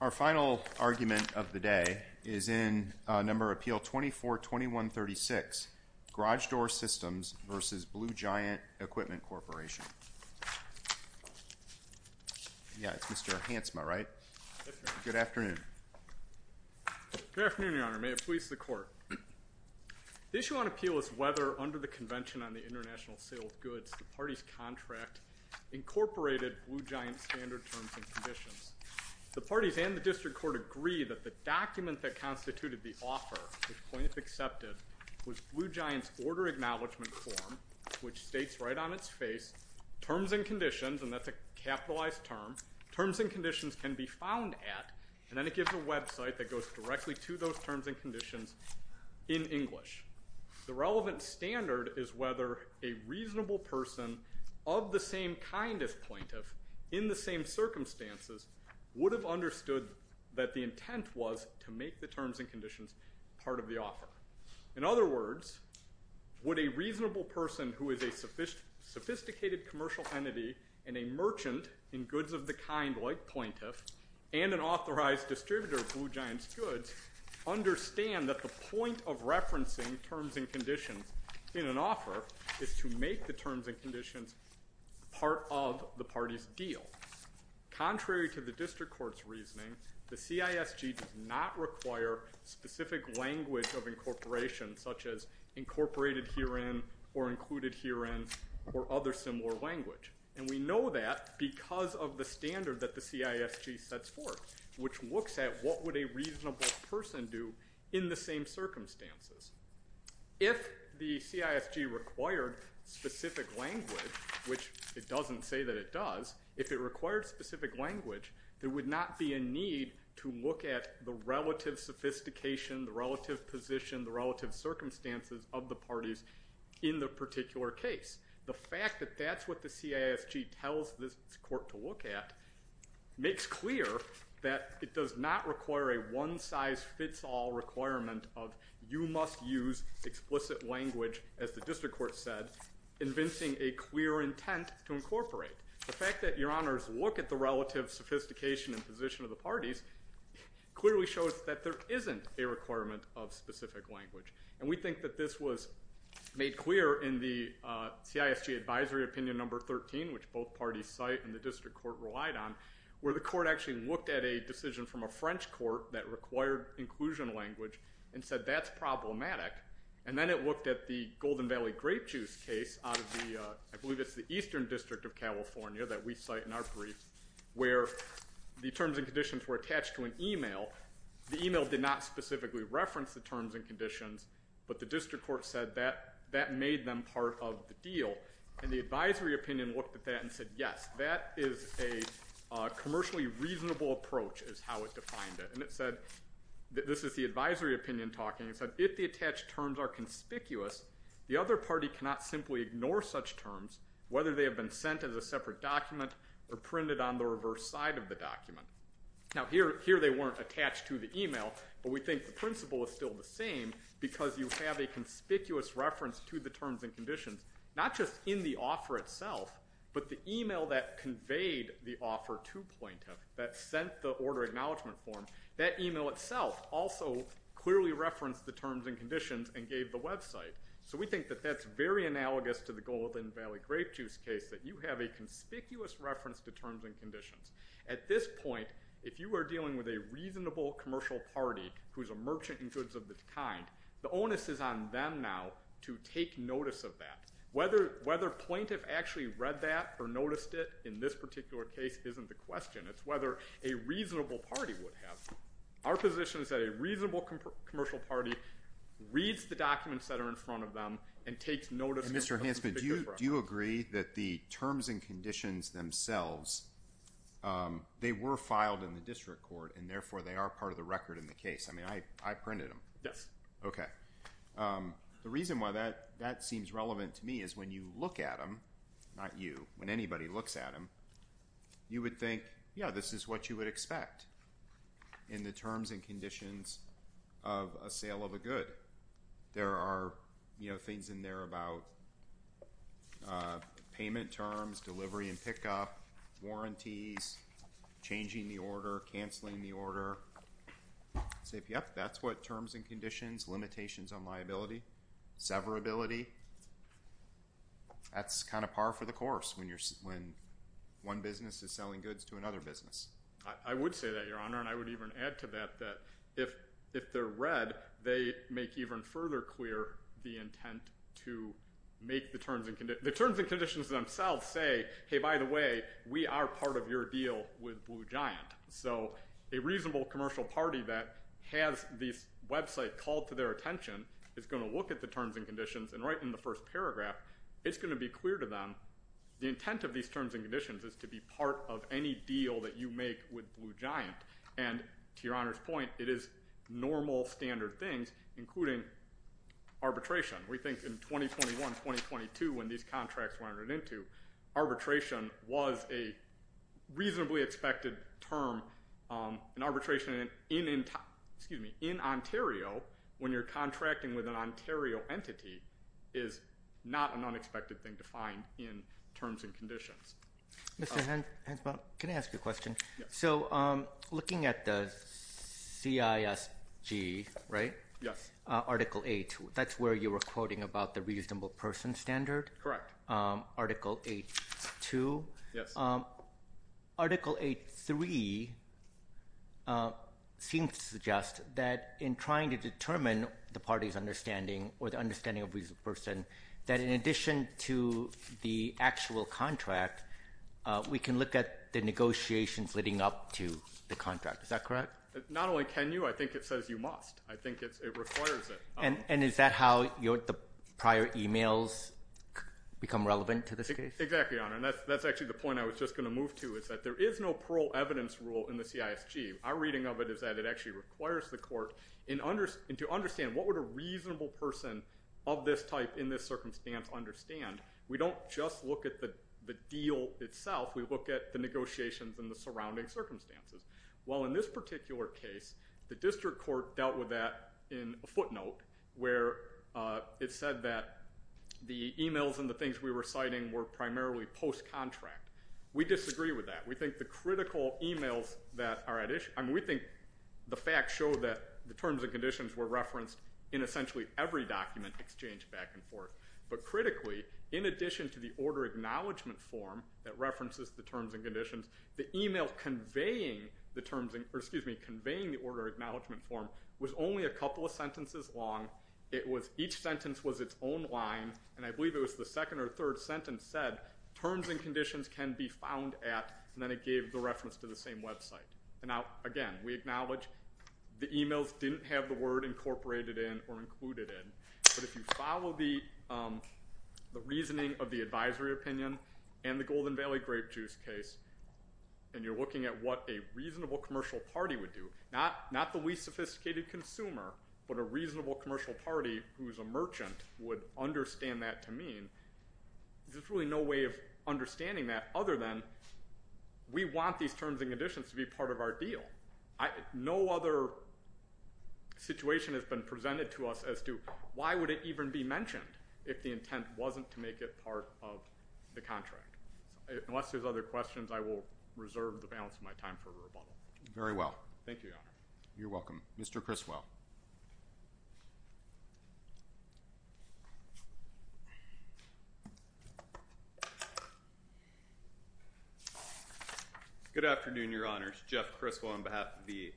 Our final argument of the day is in Number of Appeal 242136, Garage Door Systems v. Blue Giant Equipment Corporation. Yeah, it's Mr. Hansma, right? Good afternoon. Good afternoon, Your Honor. May it please the Court. The issue on appeal is whether, under the Convention on the International Sale of Goods, the parties' contract incorporated Blue Giant's standard terms and conditions. The parties and the District Court agree that the document that constituted the offer, which plaintiffs accepted, was Blue Giant's Order Acknowledgement Form, which states right on its face, Terms and Conditions, and that's a capitalized term, Terms and Conditions can be found at, and then it gives a website that goes directly to those terms and conditions, in English. The relevant standard is whether a reasonable person of the same kind as plaintiff, in the same circumstances, would have understood that the intent was to make the terms and conditions part of the offer. In other words, would a reasonable person who is a sophisticated commercial entity and a merchant in goods of the kind, like plaintiff, and an authorized distributor of Blue Giant's goods, understand that the point of referencing terms and conditions in an offer is to make the terms and conditions part of the party's deal. Contrary to the District Court's reasoning, the CISG does not require specific language of incorporation, such as incorporated herein, or included herein, or other similar language. And we know that because of the standard that the CISG sets forth, which looks at what would a reasonable person do in the same circumstances. If the CISG required specific language, which it doesn't say that it does, if it required specific language, there would not be a need to look at the relative sophistication, the relative position, the relative circumstances of the parties in the particular case. The fact that that's what the CISG tells this court to look at, makes clear that it does not require a one-size-fits-all requirement of, you must use explicit language, as the District Court said, convincing a clear intent to incorporate. The fact that your honors look at the relative sophistication and position of the parties, clearly shows that there isn't a requirement of specific language. And we think that this was made clear in the CISG Advisory Opinion Number 13, which both parties cite and the District Court relied on, where the court actually looked at a decision from a French court that required inclusion language, and said that's problematic. And then it looked at the Golden Valley Grape Juice case out of the, I believe it's the Eastern District of California that we cite in our brief, where the terms and conditions were attached to an email. The email did not specifically reference the terms and conditions, but the District Court said that that made them part of the deal. And the Advisory Opinion looked at that and said, yes, that is a commercially reasonable approach, is how it defined it. And it said, this is the Advisory Opinion talking, it said, if the attached terms are conspicuous, the other party cannot simply ignore such terms, whether they have been sent as a separate document, or printed on the reverse side of the document. Now, here they weren't attached to the email, but we think the principle is still the same, because you have a conspicuous reference to the terms and conditions, not just in the offer itself, but the email that conveyed the offer to plaintiff, that sent the order acknowledgement form, that email itself also clearly referenced the terms and conditions and gave the website. So we think that that's very analogous to the Golden Valley Grape Juice case, that you have a conspicuous reference to terms and conditions. At this point, if you are dealing with a reasonable commercial party, who is a merchant in goods of this kind, the onus is on them now to take notice of that. Whether plaintiff actually read that or noticed it, in this particular case, isn't the question. It's whether a reasonable party would have that. Our position is that a reasonable commercial party reads the documents that are in front of them and takes notice of them. Mr. Hansman, do you agree that the terms and conditions themselves, they were filed in the district court, and therefore they are part of the record in the case? I mean, I printed them. Yes. Okay. The reason why that seems relevant to me is when you look at them, not you, when anybody looks at them, you would think, yeah, this is what you would expect. In the terms and conditions of a sale of a good, there are things in there about payment terms, delivery and pickup, warranties, changing the order, canceling the order. Yep, that's what terms and conditions, limitations on liability, severability. That's kind of par for the course when one business is selling goods to another business. I would say that, Your Honor, and I would even add to that, that if they're read, they make even further clear the intent to make the terms and conditions. The terms and conditions themselves say, hey, by the way, we are part of your deal with Blue Giant. So a reasonable commercial party that has this website called to their attention is going to look at the terms and conditions and right in the first paragraph, it's going to be clear to them the intent of these terms and conditions is to be part of any deal that you make with Blue Giant. And to Your Honor's point, it is normal, standard things, including arbitration. We think in 2021, 2022, when these contracts were entered into, arbitration was a reasonably expected term. An arbitration in Ontario, when you're contracting with an Ontario entity, is not an unexpected thing to find in terms and conditions. Mr. Hensbaum, can I ask you a question? Yes. So looking at the CISG, right? Yes. Article 8, that's where you were quoting about the reasonable person standard? Correct. Article 8.2? Yes. Article 8.3 seems to suggest that in trying to determine the party's understanding or the understanding of a reasonable person, that in addition to the actual contract, we can look at the negotiations leading up to the contract. Is that correct? Not only can you, I think it says you must. I think it requires it. And is that how the prior emails become relevant to this case? Exactly, Your Honor. And that's actually the point I was just going to move to, is that there is no plural evidence rule in the CISG. Our reading of it is that it actually requires the court to understand what would a reasonable person of this type in this circumstance understand. We don't just look at the deal itself. We look at the negotiations and the surrounding circumstances. Well, in this particular case, the district court dealt with that in a footnote where it said that the emails and the things we were citing were primarily post-contract. We disagree with that. We think the critical emails that are at issue, I mean, we think the facts show that the terms and conditions were referenced in essentially every document exchanged back and forth. But critically, in addition to the order acknowledgement form that references the terms and conditions, the email conveying the order acknowledgement form was only a couple of sentences long. Each sentence was its own line, and I believe it was the second or third sentence said, terms and conditions can be found at, and then it gave the reference to the same website. Now, again, we acknowledge the emails didn't have the word incorporated in or included in. But if you follow the reasoning of the advisory opinion and the Golden Valley Grape Juice case, and you're looking at what a reasonable commercial party would do, not the least sophisticated consumer, but a reasonable commercial party who is a merchant would understand that to mean, there's really no way of understanding that other than we want these terms and conditions to be part of our deal. No other situation has been presented to us as to why would it even be mentioned if the intent wasn't to make it part of the contract. Unless there's other questions, I will reserve the balance of my time for rebuttal. Very well. Thank you, Your Honor. You're welcome. Mr. Criswell. Good afternoon, Your Honor. It's Jeff Criswell on behalf of the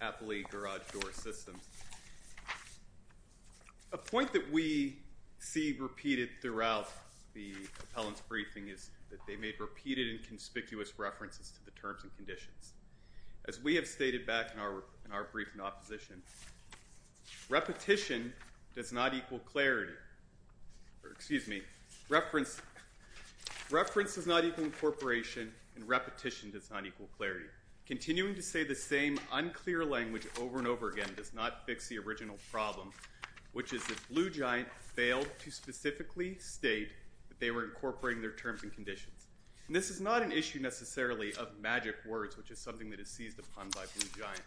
Appalachia Garage Door System. A point that we see repeated throughout the appellant's briefing is that they made repeated and conspicuous references to the terms and conditions. As we have stated back in our brief in opposition, repetition does not equal clarity. Excuse me. Reference does not equal incorporation, and repetition does not equal clarity. Continuing to say the same unclear language over and over again does not fix the original problem, which is that Blue Giant failed to specifically state that they were incorporating their terms and conditions. This is not an issue necessarily of magic words, which is something that is seized upon by Blue Giant.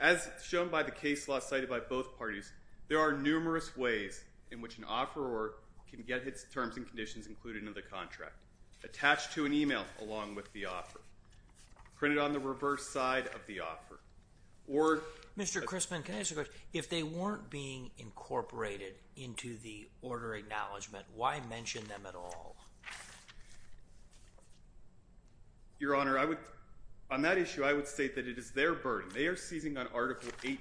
As shown by the case law cited by both parties, there are numerous ways in which an offeror can get his terms and conditions included in the contract. Attached to an email along with the offer. Printed on the reverse side of the offer. Mr. Crisman, can I ask a question? If they weren't being incorporated into the order acknowledgement, why mention them at all? Your Honor, on that issue, I would state that it is their burden. They are seizing on Article 8.2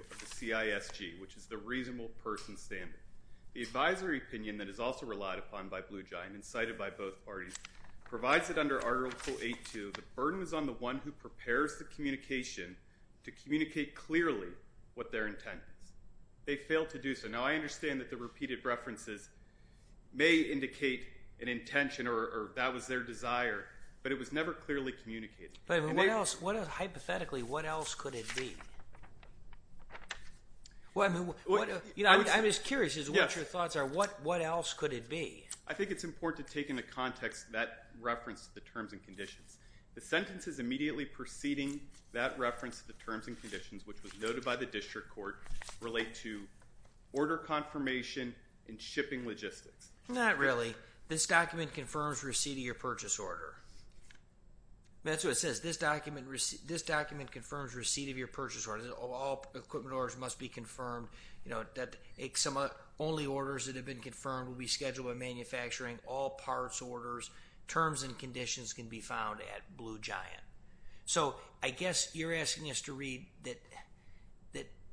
of the CISG, which is the reasonable person standard. The advisory opinion that is also relied upon by Blue Giant and cited by both parties provides it under Article 8.2. The burden is on the one who prepares the communication to communicate clearly what their intent is. They failed to do so. Now, I understand that the repeated references may indicate an intention or that was their desire, but it was never clearly communicated. Hypothetically, what else could it be? I'm just curious as to what your thoughts are. What else could it be? I think it's important to take into context that reference to the terms and conditions. The sentences immediately preceding that reference to the terms and conditions, which was noted by the district court, relate to order confirmation and shipping logistics. Not really. This document confirms receipt of your purchase order. That's what it says. This document confirms receipt of your purchase order. All equipment orders must be confirmed. Only orders that have been confirmed will be scheduled by manufacturing, all parts orders. Terms and conditions can be found at Blue Giant. I guess you're asking us to read that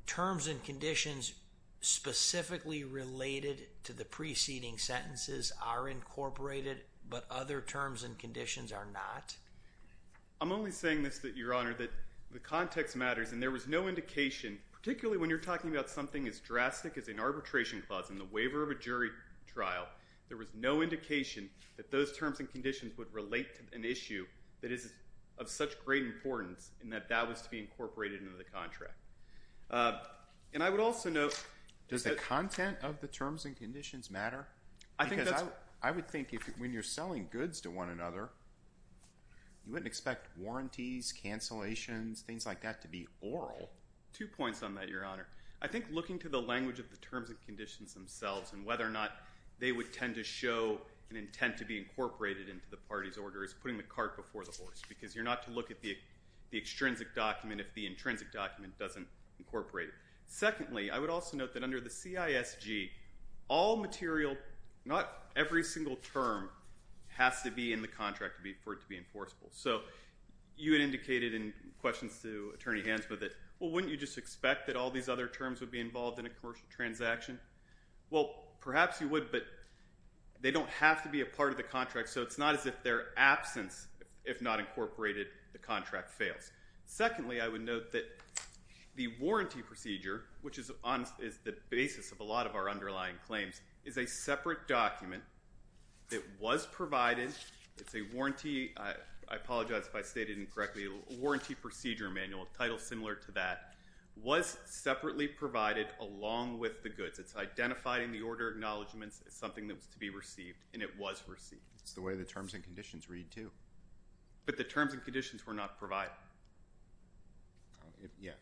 terms and conditions specifically related to the preceding sentences are incorporated, but other terms and conditions are not? I'm only saying this, Your Honor, that the context matters and there was no indication, particularly when you're talking about something as drastic as an arbitration clause in the waiver of a jury trial, there was no indication that those terms and conditions would relate to an issue that is of such great importance and that that was to be incorporated into the contract. And I would also note… Does the content of the terms and conditions matter? I would think when you're selling goods to one another, you wouldn't expect warranties, cancellations, things like that to be oral. Two points on that, Your Honor. I think looking to the language of the terms and conditions themselves and whether or not they would tend to show an intent to be incorporated into the party's order is putting the cart before the horse because you're not to look at the extrinsic document if the intrinsic document doesn't incorporate it. Secondly, I would also note that under the CISG, all material, not every single term has to be in the contract for it to be enforceable. So you had indicated in questions to Attorney Hansma that, well, wouldn't you just expect that all these other terms would be involved in a commercial transaction? Well, perhaps you would, but they don't have to be a part of the contract, so it's not as if their absence, if not incorporated, the contract fails. Secondly, I would note that the warranty procedure, which is the basis of a lot of our underlying claims, is a separate document that was provided. It's a warranty procedure manual, a title similar to that, was separately provided along with the goods. It's identified in the order acknowledgments as something that was to be received, and it was received. It's the way the terms and conditions read, too. But the terms and conditions were not provided.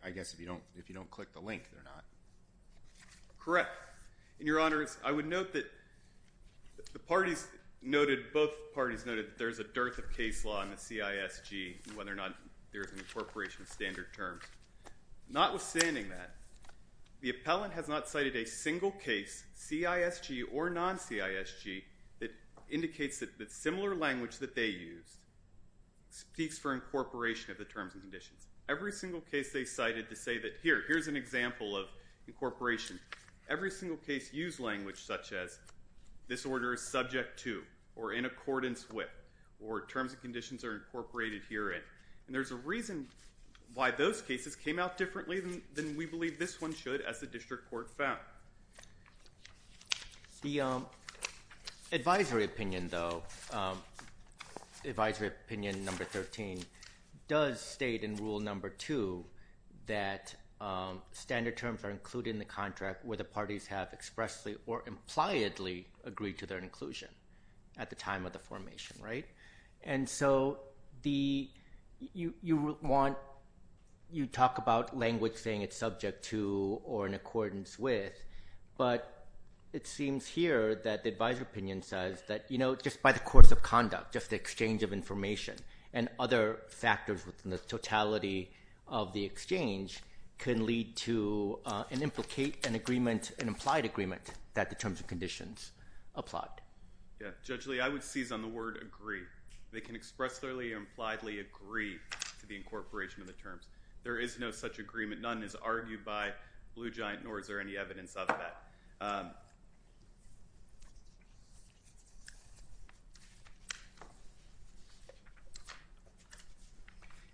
I guess if you don't click the link, they're not. Correct. And, Your Honor, I would note that the parties noted, both parties noted that there is a dearth of case law in the CISG and whether or not there is an incorporation of standard terms. Notwithstanding that, the appellant has not cited a single case, CISG or non-CISG, that indicates that similar language that they use speaks for incorporation of the terms and conditions. Every single case they cited to say that, here, here's an example of incorporation. Every single case used language such as, this order is subject to or in accordance with or terms and conditions are incorporated herein. And there's a reason why those cases came out differently than we believe this one should, as the district court found. The advisory opinion, though, advisory opinion number 13, does state in rule number 2 that standard terms are included in the contract where the parties have expressly or impliedly agreed to their inclusion at the time of the formation, right? And so you talk about language saying it's subject to or in accordance with, but it seems here that the advisory opinion says that, you know, just by the course of conduct, just the exchange of information and other factors within the totality of the exchange can lead to and implicate an agreement, an implied agreement, that the terms and conditions apply. Judge Lee, I would seize on the word agree. They can expressly or impliedly agree to the incorporation of the terms. There is no such agreement. None is argued by Blue Giant, nor is there any evidence of that.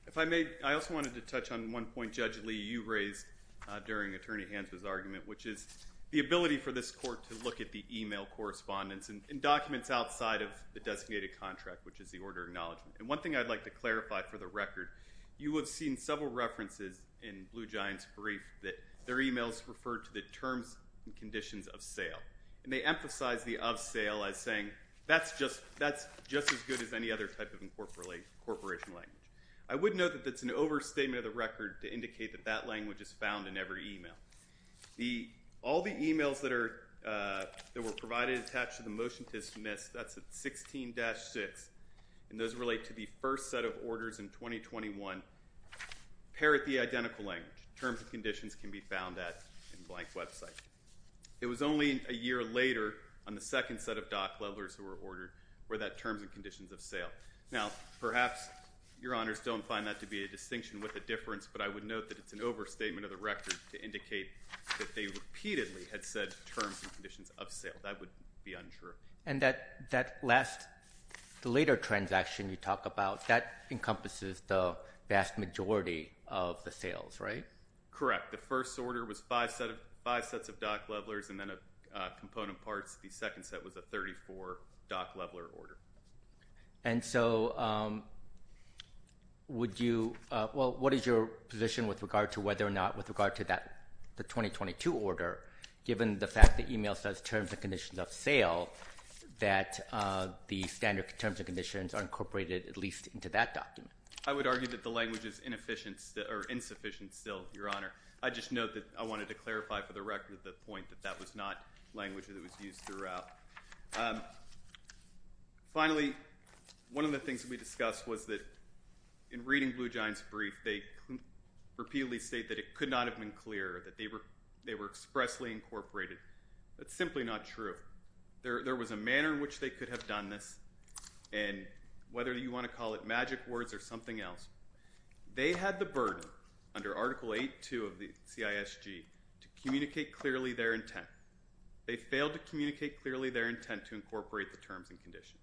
If I may, I also wanted to touch on one point, Judge Lee, you raised during Attorney Hanson's argument, which is the ability for this court to look at the e-mail correspondence and documents outside of the designated contract, which is the order of acknowledgement. And one thing I'd like to clarify for the record, you have seen several references in Blue Giant's brief that their e-mails refer to the terms and conditions of sale. And they emphasize the of sale as saying, that's just as good as any other type of incorporation language. I would note that that's an overstatement of the record to indicate that that language is found in every e-mail. All the e-mails that were provided attached to the motion to dismiss, that's at 16-6, and those relate to the first set of orders in 2021, pair at the identical language. Terms and conditions can be found at the blank website. It was only a year later on the second set of dock levelers who were ordered were that terms and conditions of sale. Now, perhaps your honors don't find that to be a distinction with a difference, but I would note that it's an overstatement of the record to indicate that they repeatedly had said terms and conditions of sale. That would be unsure. And that last, the later transaction you talk about, that encompasses the vast majority of the sales, right? Correct. The first order was five sets of dock levelers and then a component parts. The second set was a 34 dock leveler order. And so would you, well, what is your position with regard to whether or not with regard to that, the 2022 order, given the fact that email says terms and conditions of sale, that the standard terms and conditions are incorporated at least into that document. I would argue that the language is inefficient or insufficient. Still your honor. I just know that I wanted to clarify for the record, the point that that was not language that was used throughout. Finally, one of the things that we discussed was that in reading blue giants brief, they repeatedly state that it could not have been clear that they were, they were expressly incorporated. That's simply not true. There, there was a manner in which they could have done this. And whether you want to call it magic words or something else, they had the burden under article eight, two of the CISG to communicate clearly their intent. They failed to communicate clearly their intent to incorporate the terms and conditions.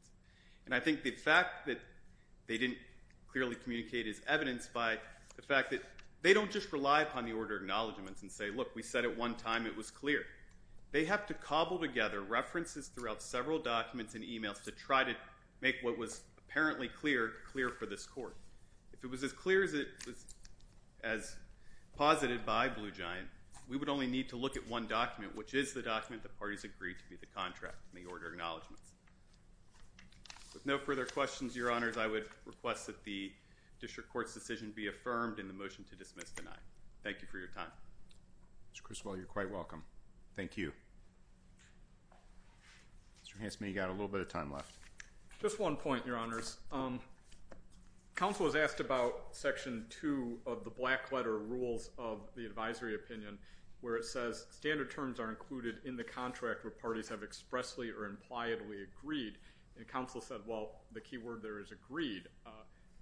And I think the fact that they didn't clearly communicate is evidenced by the fact that they don't just rely upon the order acknowledgements and say, look, we said at one time it was clear they have to cobble together references throughout several documents and emails to try to make what was apparently clear, clear for this court. If it was as clear as it was, as posited by blue giant, we would only need to look at one document, which is the document that parties agreed to be the contract and the order acknowledgements. With no further questions, your honors, I would request that the district court's decision be affirmed in the motion to dismiss the nine. Thank you for your time. Mr. Criswell, you're quite welcome. Thank you. Mr. Hansman, you got a little bit of time left. Just one point, your honors. Um, counsel was asked about section two of the black letter rules of the advisory opinion, where it says standard terms are included in the contract where parties have expressly or impliedly agreed. And counsel said, well, the key word there is agreed. Uh,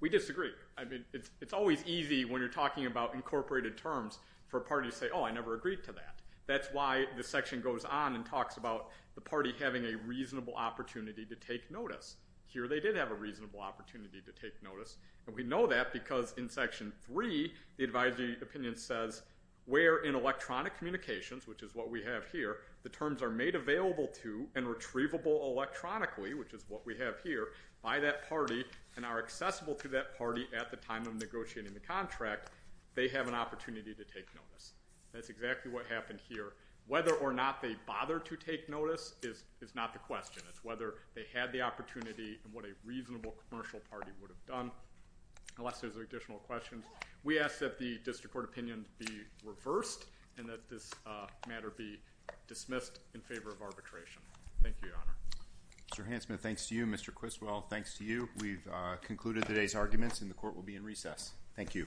we disagree. I mean, it's always easy when you're talking about incorporated terms for parties say, Oh, I never agreed to that. That's why the section goes on and talks about the party having a reasonable opportunity to take notice here. They did have a reasonable opportunity to take notice. And we know that because in section three, the advisory opinion says we're in electronic communications, which is what we have here. The terms are made available to and retrievable electronically, which is what we have here by that party and are accessible to that party at the time of negotiating the contract. They have an opportunity to take notice. That's exactly what happened here. Whether or not they bother to take notice is, is not the question. It's whether they had the opportunity and what a reasonable commercial party would have done unless there's additional questions. We ask that the district court opinion be reversed and that this, uh, matter be dismissed in favor of arbitration. Thank you, your honor. Mr. Hansman. Thanks to you, Mr. Criswell. Thanks to you. We've concluded today's arguments and the court will be in recess. Thank you. Okay. Okay.